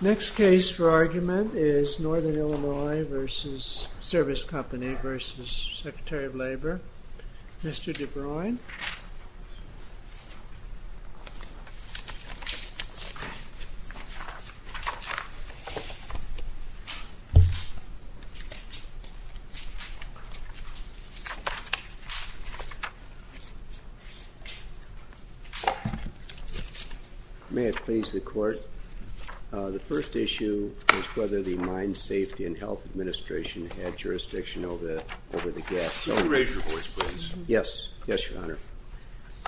Next case for argument is Northern Illinois v. Service Company v. Secretary of Labor, Mr. DeBruin. May it please the Court, the first issue is whether the Mine Safety and Health Administration had jurisdiction over the gas. May it please the Court,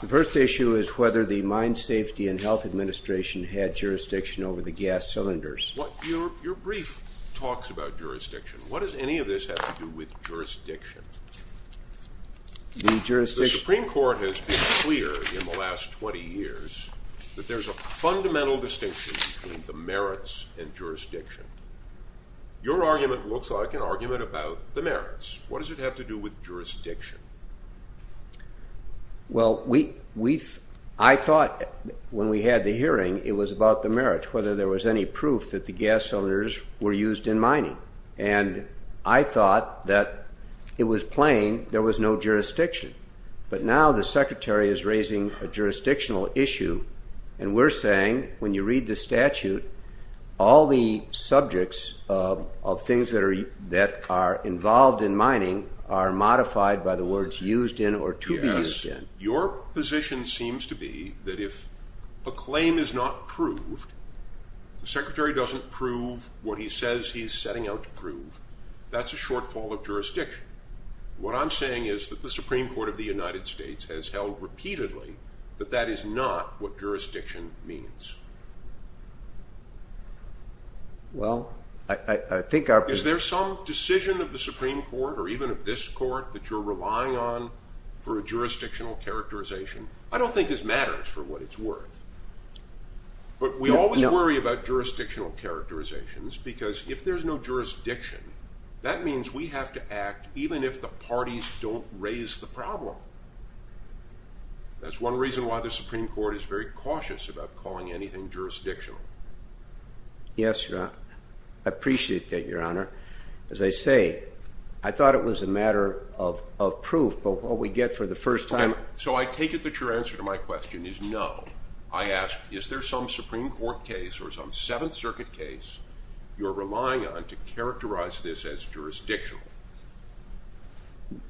the first issue is whether the Mine Safety and Health Administration had jurisdiction over the gas. Your brief talks about jurisdiction. What does any of this have to do with jurisdiction? The Supreme Court has been clear in the last 20 years that there's a fundamental distinction between the merits and jurisdiction. Your argument looks like an argument about the merits. What does it have to do with jurisdiction? Well, I thought when we had the hearing it was about the merits, whether there was any proof that the gas cylinders were used in mining. And I thought that it was plain there was no jurisdiction. But now the Secretary is raising a jurisdictional issue and we're saying when you read the statute, all the subjects of things that are involved in mining are modified by the words used in or to be used in. Your position seems to be that if a claim is not proved, the Secretary doesn't prove what he says he's setting out to prove, that's a shortfall of jurisdiction. What I'm saying is that the Supreme Court of the United States has held repeatedly that that is not what jurisdiction means. Is there some decision of the Supreme Court or even of this court that you're relying on for a jurisdictional characterization? I don't think this matters for what it's worth. But we always worry about jurisdictional characterizations because if there's no jurisdiction, that means we have to act even if the parties don't raise the problem. That's one reason why the Supreme Court is very cautious about calling anything jurisdictional. Yes, Your Honor. I appreciate that, Your Honor. As I say, I thought it was a matter of proof, but what we get for the first time... So I take it that your answer to my question is no. I ask, is there some Supreme Court case or some Seventh Circuit case you're relying on to characterize this as jurisdictional?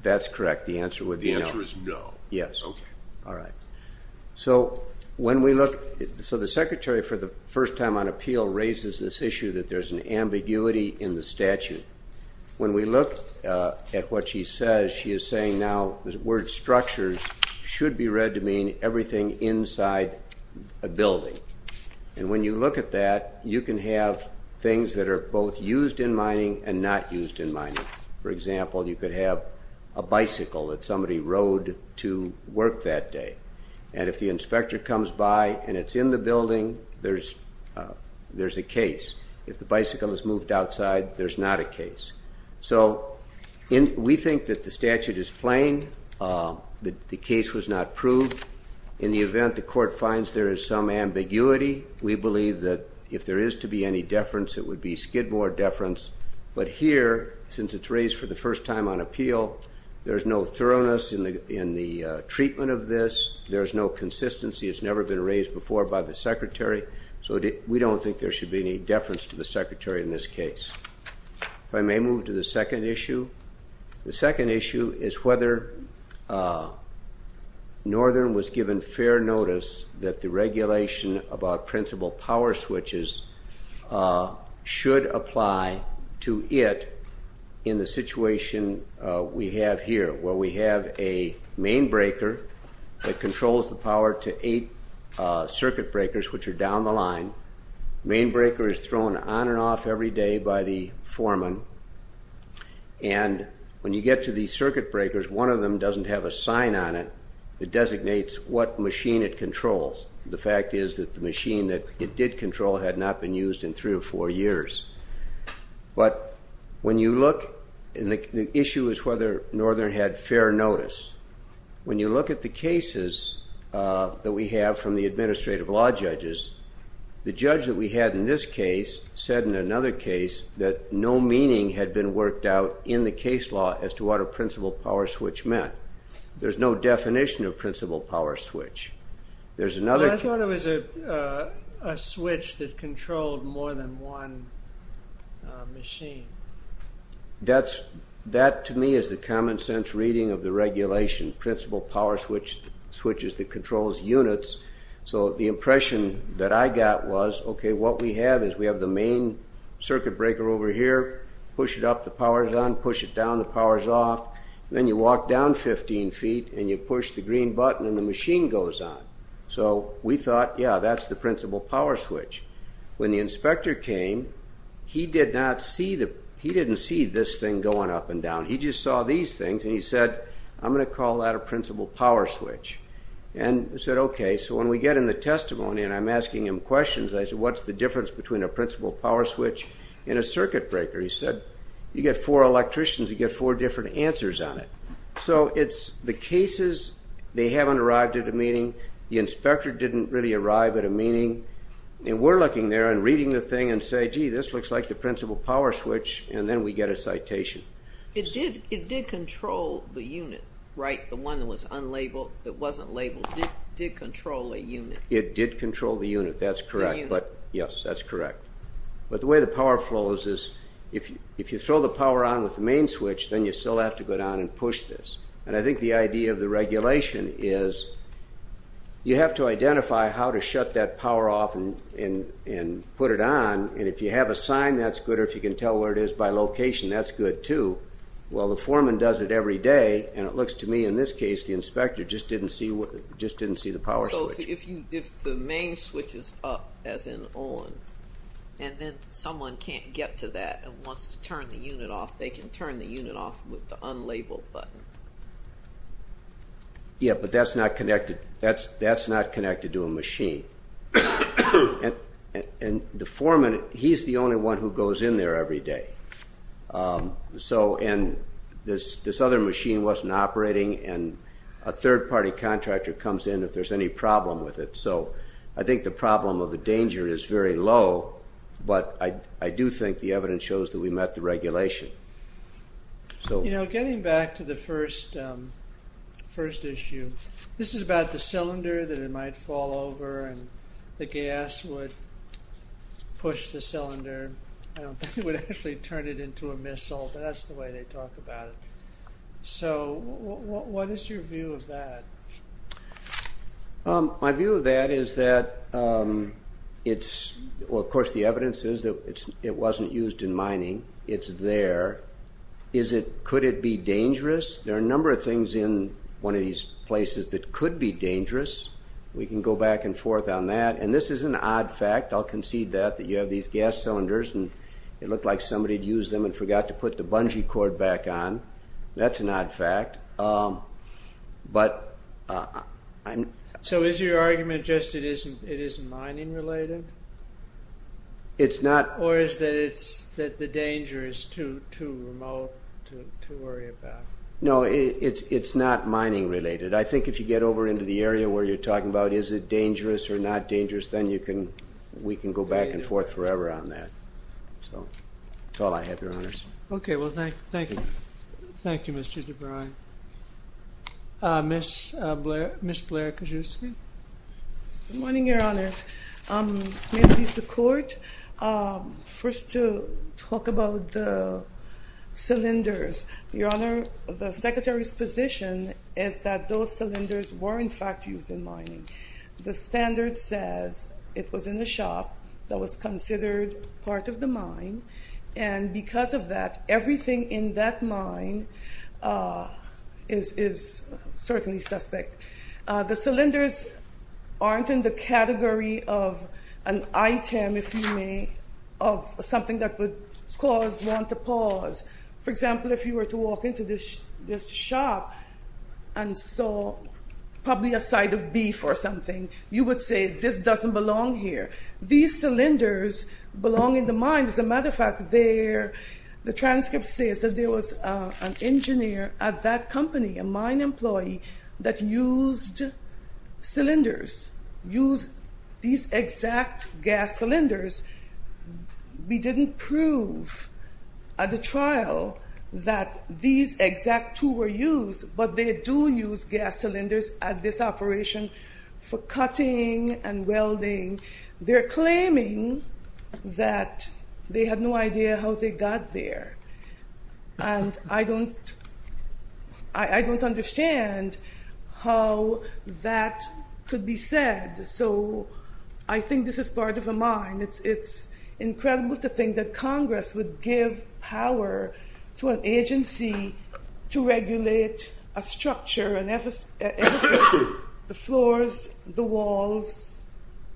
That's correct. The answer would be no. The answer is no. Yes. Okay. All right. So when we look... So the Secretary, for the first time on appeal, raises this issue that there's an ambiguity in the statute. When we look at what she says, she is saying now the word structures should be read to mean everything inside a building. And when you look at that, you can have things that are both used in mining and not used in mining. For example, you could have a bicycle that somebody rode to work that day. And if the inspector comes by and it's in the building, there's a case. If the bicycle is moved outside, there's not a case. So we think that the statute is plain, that the case was not proved. In the event the court finds there is some ambiguity, we believe that if there is to be any deference, it would be skidboard deference. But here, since it's raised for the first time on appeal, there's no thoroughness in the treatment of this. There's no consistency. It's never been raised before by the Secretary. So we don't think there should be any deference to the Secretary in this case. If I may move to the second issue. The second issue is whether Northern was given fair notice that the regulation about principal power switches should apply to it in the situation we have here, where we have a main breaker that controls the power to eight circuit breakers, which are down the line. The main breaker is thrown on and off every day by the foreman. And when you get to these circuit breakers, one of them doesn't have a sign on it that designates what machine it controls. The fact is that the machine that it did control had not been used in three or four years. But when you look, the issue is whether Northern had fair notice. When you look at the cases that we have from the administrative law judges, the judge that we had in this case said in another case that no meaning had been worked out in the case law as to what a principal power switch meant. There's no definition of principal power switch. I thought it was a switch that controlled more than one machine. That, to me, is the common sense reading of the regulation, principal power switches that controls units. So the impression that I got was, okay, what we have is we have the main circuit breaker over here. Push it up, the power's on. Push it down, the power's off. Then you walk down 15 feet, and you push the green button, and the machine goes on. So we thought, yeah, that's the principal power switch. When the inspector came, he didn't see this thing going up and down. He just saw these things, and he said, I'm going to call that a principal power switch. And we said, okay. So when we get in the testimony, and I'm asking him questions, I said, what's the difference between a principal power switch and a circuit breaker? He said, you get four electricians. You get four different answers on it. So it's the cases, they haven't arrived at a meaning. The inspector didn't really arrive at a meaning. And we're looking there and reading the thing and say, gee, this looks like the principal power switch. And then we get a citation. It did control the unit, right? The one that was unlabeled, that wasn't labeled, did control a unit. It did control the unit, that's correct. But, yes, that's correct. But the way the power flows is, if you throw the power on with the main switch, then you still have to go down and push this. And I think the idea of the regulation is you have to identify how to shut that power off and put it on. And if you have a sign, that's good. Or if you can tell where it is by location, that's good, too. Well, the foreman does it every day. And it looks to me, in this case, the inspector just didn't see the power switch. So if the main switch is up, as in on, and then someone can't get to that and wants to turn the unit off, they can turn the unit off with the unlabeled button. Yeah, but that's not connected to a machine. And the foreman, he's the only one who goes in there every day. And this other machine wasn't operating, and a third-party contractor comes in if there's any problem with it. So I think the problem or the danger is very low, but I do think the evidence shows that we met the regulation. You know, getting back to the first issue, this is about the cylinder that it might fall over and the gas would push the cylinder. I don't think it would actually turn it into a missile, but that's the way they talk about it. So what is your view of that? My view of that is that it's – well, of course, the evidence is that it wasn't used in mining. It's there. Could it be dangerous? There are a number of things in one of these places that could be dangerous. We can go back and forth on that. And this is an odd fact. I'll concede that, that you have these gas cylinders, and it looked like somebody had used them and forgot to put the bungee cord back on. That's an odd fact. But I'm – So is your argument just it isn't mining-related? It's not – Or is it that the danger is too remote to worry about? No, it's not mining-related. I think if you get over into the area where you're talking about is it dangerous or not dangerous, then we can go back and forth forever on that. So that's all I have, Your Honors. Okay. Well, thank you. Thank you, Mr. DeVry. Ms. Blair-Kazuski? Good morning, Your Honors. May it please the Court, first to talk about the cylinders. Your Honor, the Secretary's position is that those cylinders were, in fact, used in mining. The standard says it was in a shop that was considered part of the mine. And because of that, everything in that mine is certainly suspect. The cylinders aren't in the category of an item, if you may, of something that would cause one to pause. For example, if you were to walk into this shop and saw probably a side of beef or something, you would say, this doesn't belong here. These cylinders belong in the mine. As a matter of fact, the transcript says that there was an engineer at that company, a mine employee, that used cylinders, used these exact gas cylinders. We didn't prove at the trial that these exact two were used, but they do use gas cylinders at this operation for cutting and welding. They're claiming that they had no idea how they got there. And I don't understand how that could be said. So I think this is part of a mine. It's incredible to think that Congress would give power to an agency to regulate a structure, the floors, the walls,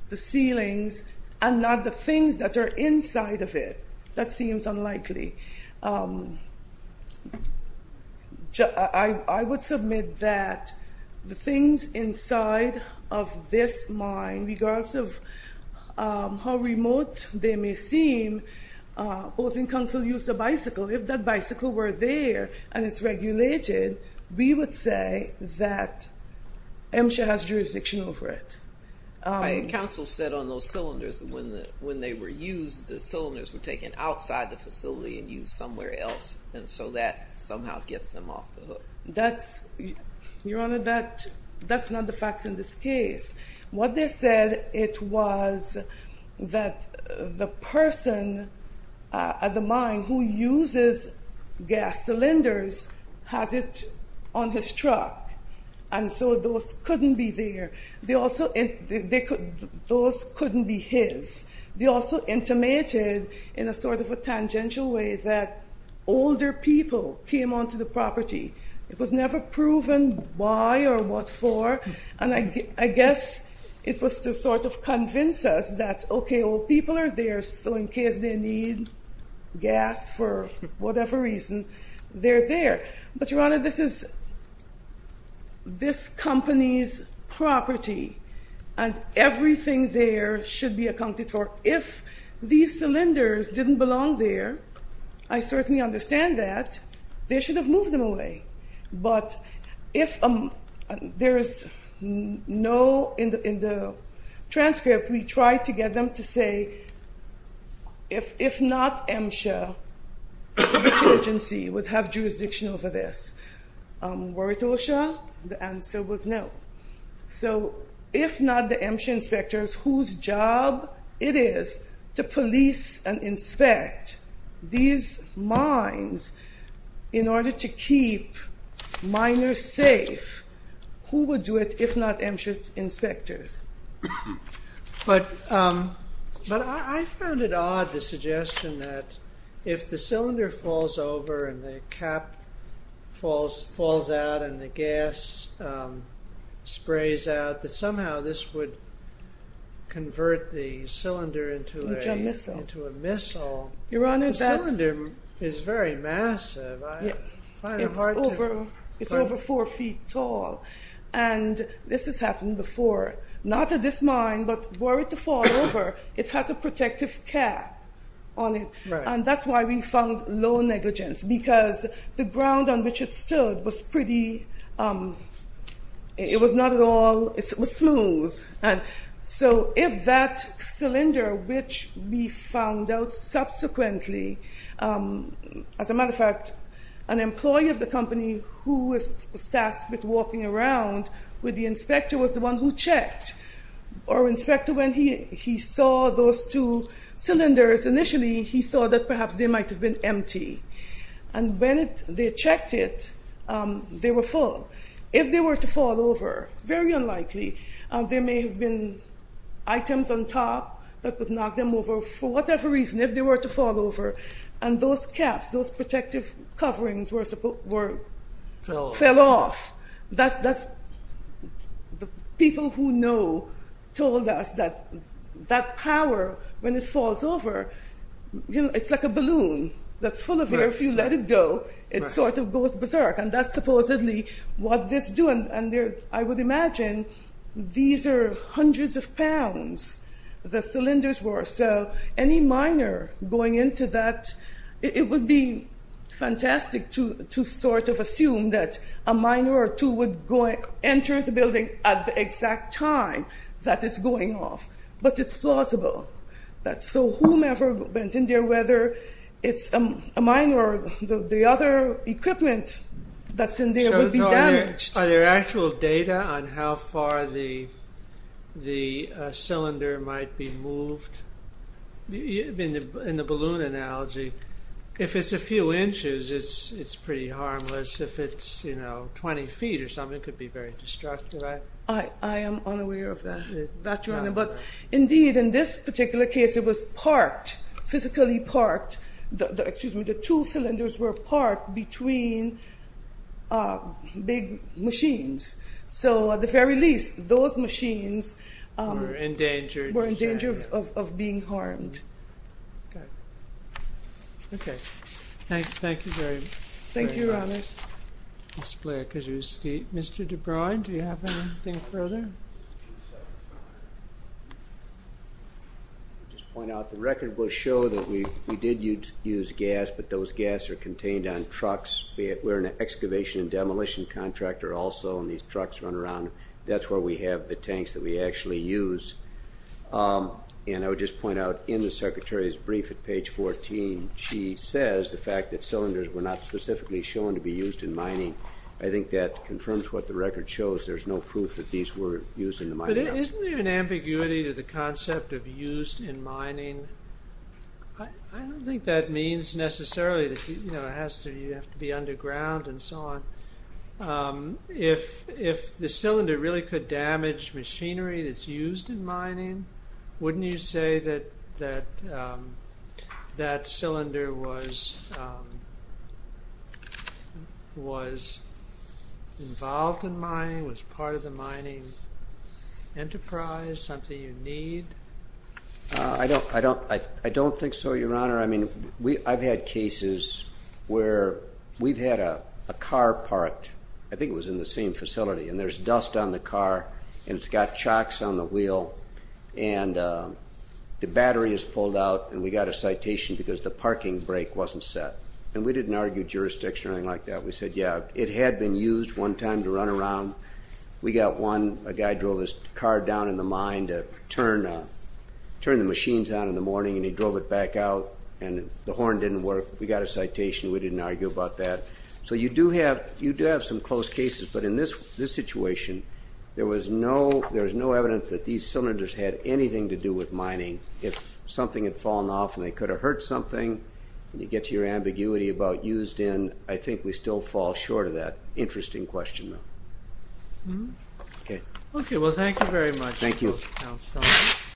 the ceilings, and not the things that are inside of it. That seems unlikely. I would submit that the things inside of this mine, regardless of how remote they may seem, opposing counsel used a bicycle. If that bicycle were there and it's regulated, we would say that MSHA has jurisdiction over it. Counsel said on those cylinders, when they were used, the cylinders were taken outside the facility and used somewhere else. And so that somehow gets them off the hook. Your Honor, that's not the facts in this case. What they said, it was that the person at the mine who uses gas cylinders has it on his truck. And so those couldn't be there. Those couldn't be his. They also intimated in a sort of a tangential way that older people came onto the property. It was never proven why or what for. And I guess it was to sort of convince us that, okay, old people are there, so in case they need gas for whatever reason, they're there. But, Your Honor, this is this company's property, and everything there should be accounted for. If these cylinders didn't belong there, I certainly understand that. They should have moved them away. But if there is no, in the transcript, we tried to get them to say, if not MSHA, which agency would have jurisdiction over this? Waratosha? The answer was no. So if not the MSHA inspectors, whose job it is to police and inspect these mines in order to keep miners safe? Who would do it if not MSHA inspectors? But I found it odd, the suggestion that if the cylinder falls over and the cap falls out and the gas sprays out, that somehow this would convert the cylinder into a missile. The cylinder is very massive. It's over four feet tall. And this has happened before. Not at this mine, but were it to fall over, it has a protective cap on it. And that's why we found low negligence, because the ground on which it stood was pretty – it was not at all – it was smooth. And so if that cylinder, which we found out subsequently – as a matter of fact, an employee of the company who was tasked with walking around with the inspector was the one who checked. Our inspector, when he saw those two cylinders initially, he thought that perhaps they might have been empty. And when they checked it, they were full. If they were to fall over, very unlikely, there may have been items on top that could knock them over for whatever reason if they were to fall over. And those caps, those protective coverings were – Fell off. Fell off. That's – the people who know told us that that power, when it falls over, it's like a balloon that's full of air. If you let it go, it sort of goes berserk. And that's supposedly what this do. And I would imagine these are hundreds of pounds the cylinders were. So any miner going into that, it would be fantastic to sort of assume that a miner or two would enter the building at the exact time that it's going off. But it's plausible. So whomever went in there, whether it's a miner or the other equipment that's in there would be damaged. So are there actual data on how far the cylinder might be moved? In the balloon analogy, if it's a few inches, it's pretty harmless. If it's 20 feet or something, it could be very destructive. I am unaware of that. But indeed, in this particular case, it was parked, physically parked. Excuse me. The two cylinders were parked between big machines. So at the very least, those machines were in danger of being harmed. Okay. Okay. Thanks. Thank you very much. Thank you, Your Honors. Mr. Blair-Kazuski. Mr. DeBruyne, do you have anything further? Just a few seconds. I'll just point out the record will show that we did use gas, but those gas are contained on trucks. We're an excavation and demolition contractor also, and these trucks run around. That's where we have the tanks that we actually use. And I would just point out in the Secretary's brief at page 14, she says the fact that cylinders were not specifically shown to be used in mining, I think that confirms what the record shows. There's no proof that these were used in the mining. But isn't there an ambiguity to the concept of used in mining? I don't think that means necessarily that you have to be underground and so on. If the cylinder really could damage machinery that's used in mining, wouldn't you say that that cylinder was involved in mining, was part of the mining enterprise, something you need? I don't think so, Your Honor. I've had cases where we've had a car parked, I think it was in the same facility, and there's dust on the car, and it's got chocks on the wheel, and the battery is pulled out, and we got a citation because the parking brake wasn't set. And we didn't argue jurisdiction or anything like that. We said, yeah, it had been used one time to run around. We got one guy drove his car down in the mine to turn the machines on in the morning, and he drove it back out, and the horn didn't work. We got a citation. We didn't argue about that. So you do have some close cases, but in this situation, there was no evidence that these cylinders had anything to do with mining. If something had fallen off and they could have hurt something, and you get to your ambiguity about used in, I think we still fall short of that. Interesting question, though. Okay, well, thank you very much, Counselor. Thank you.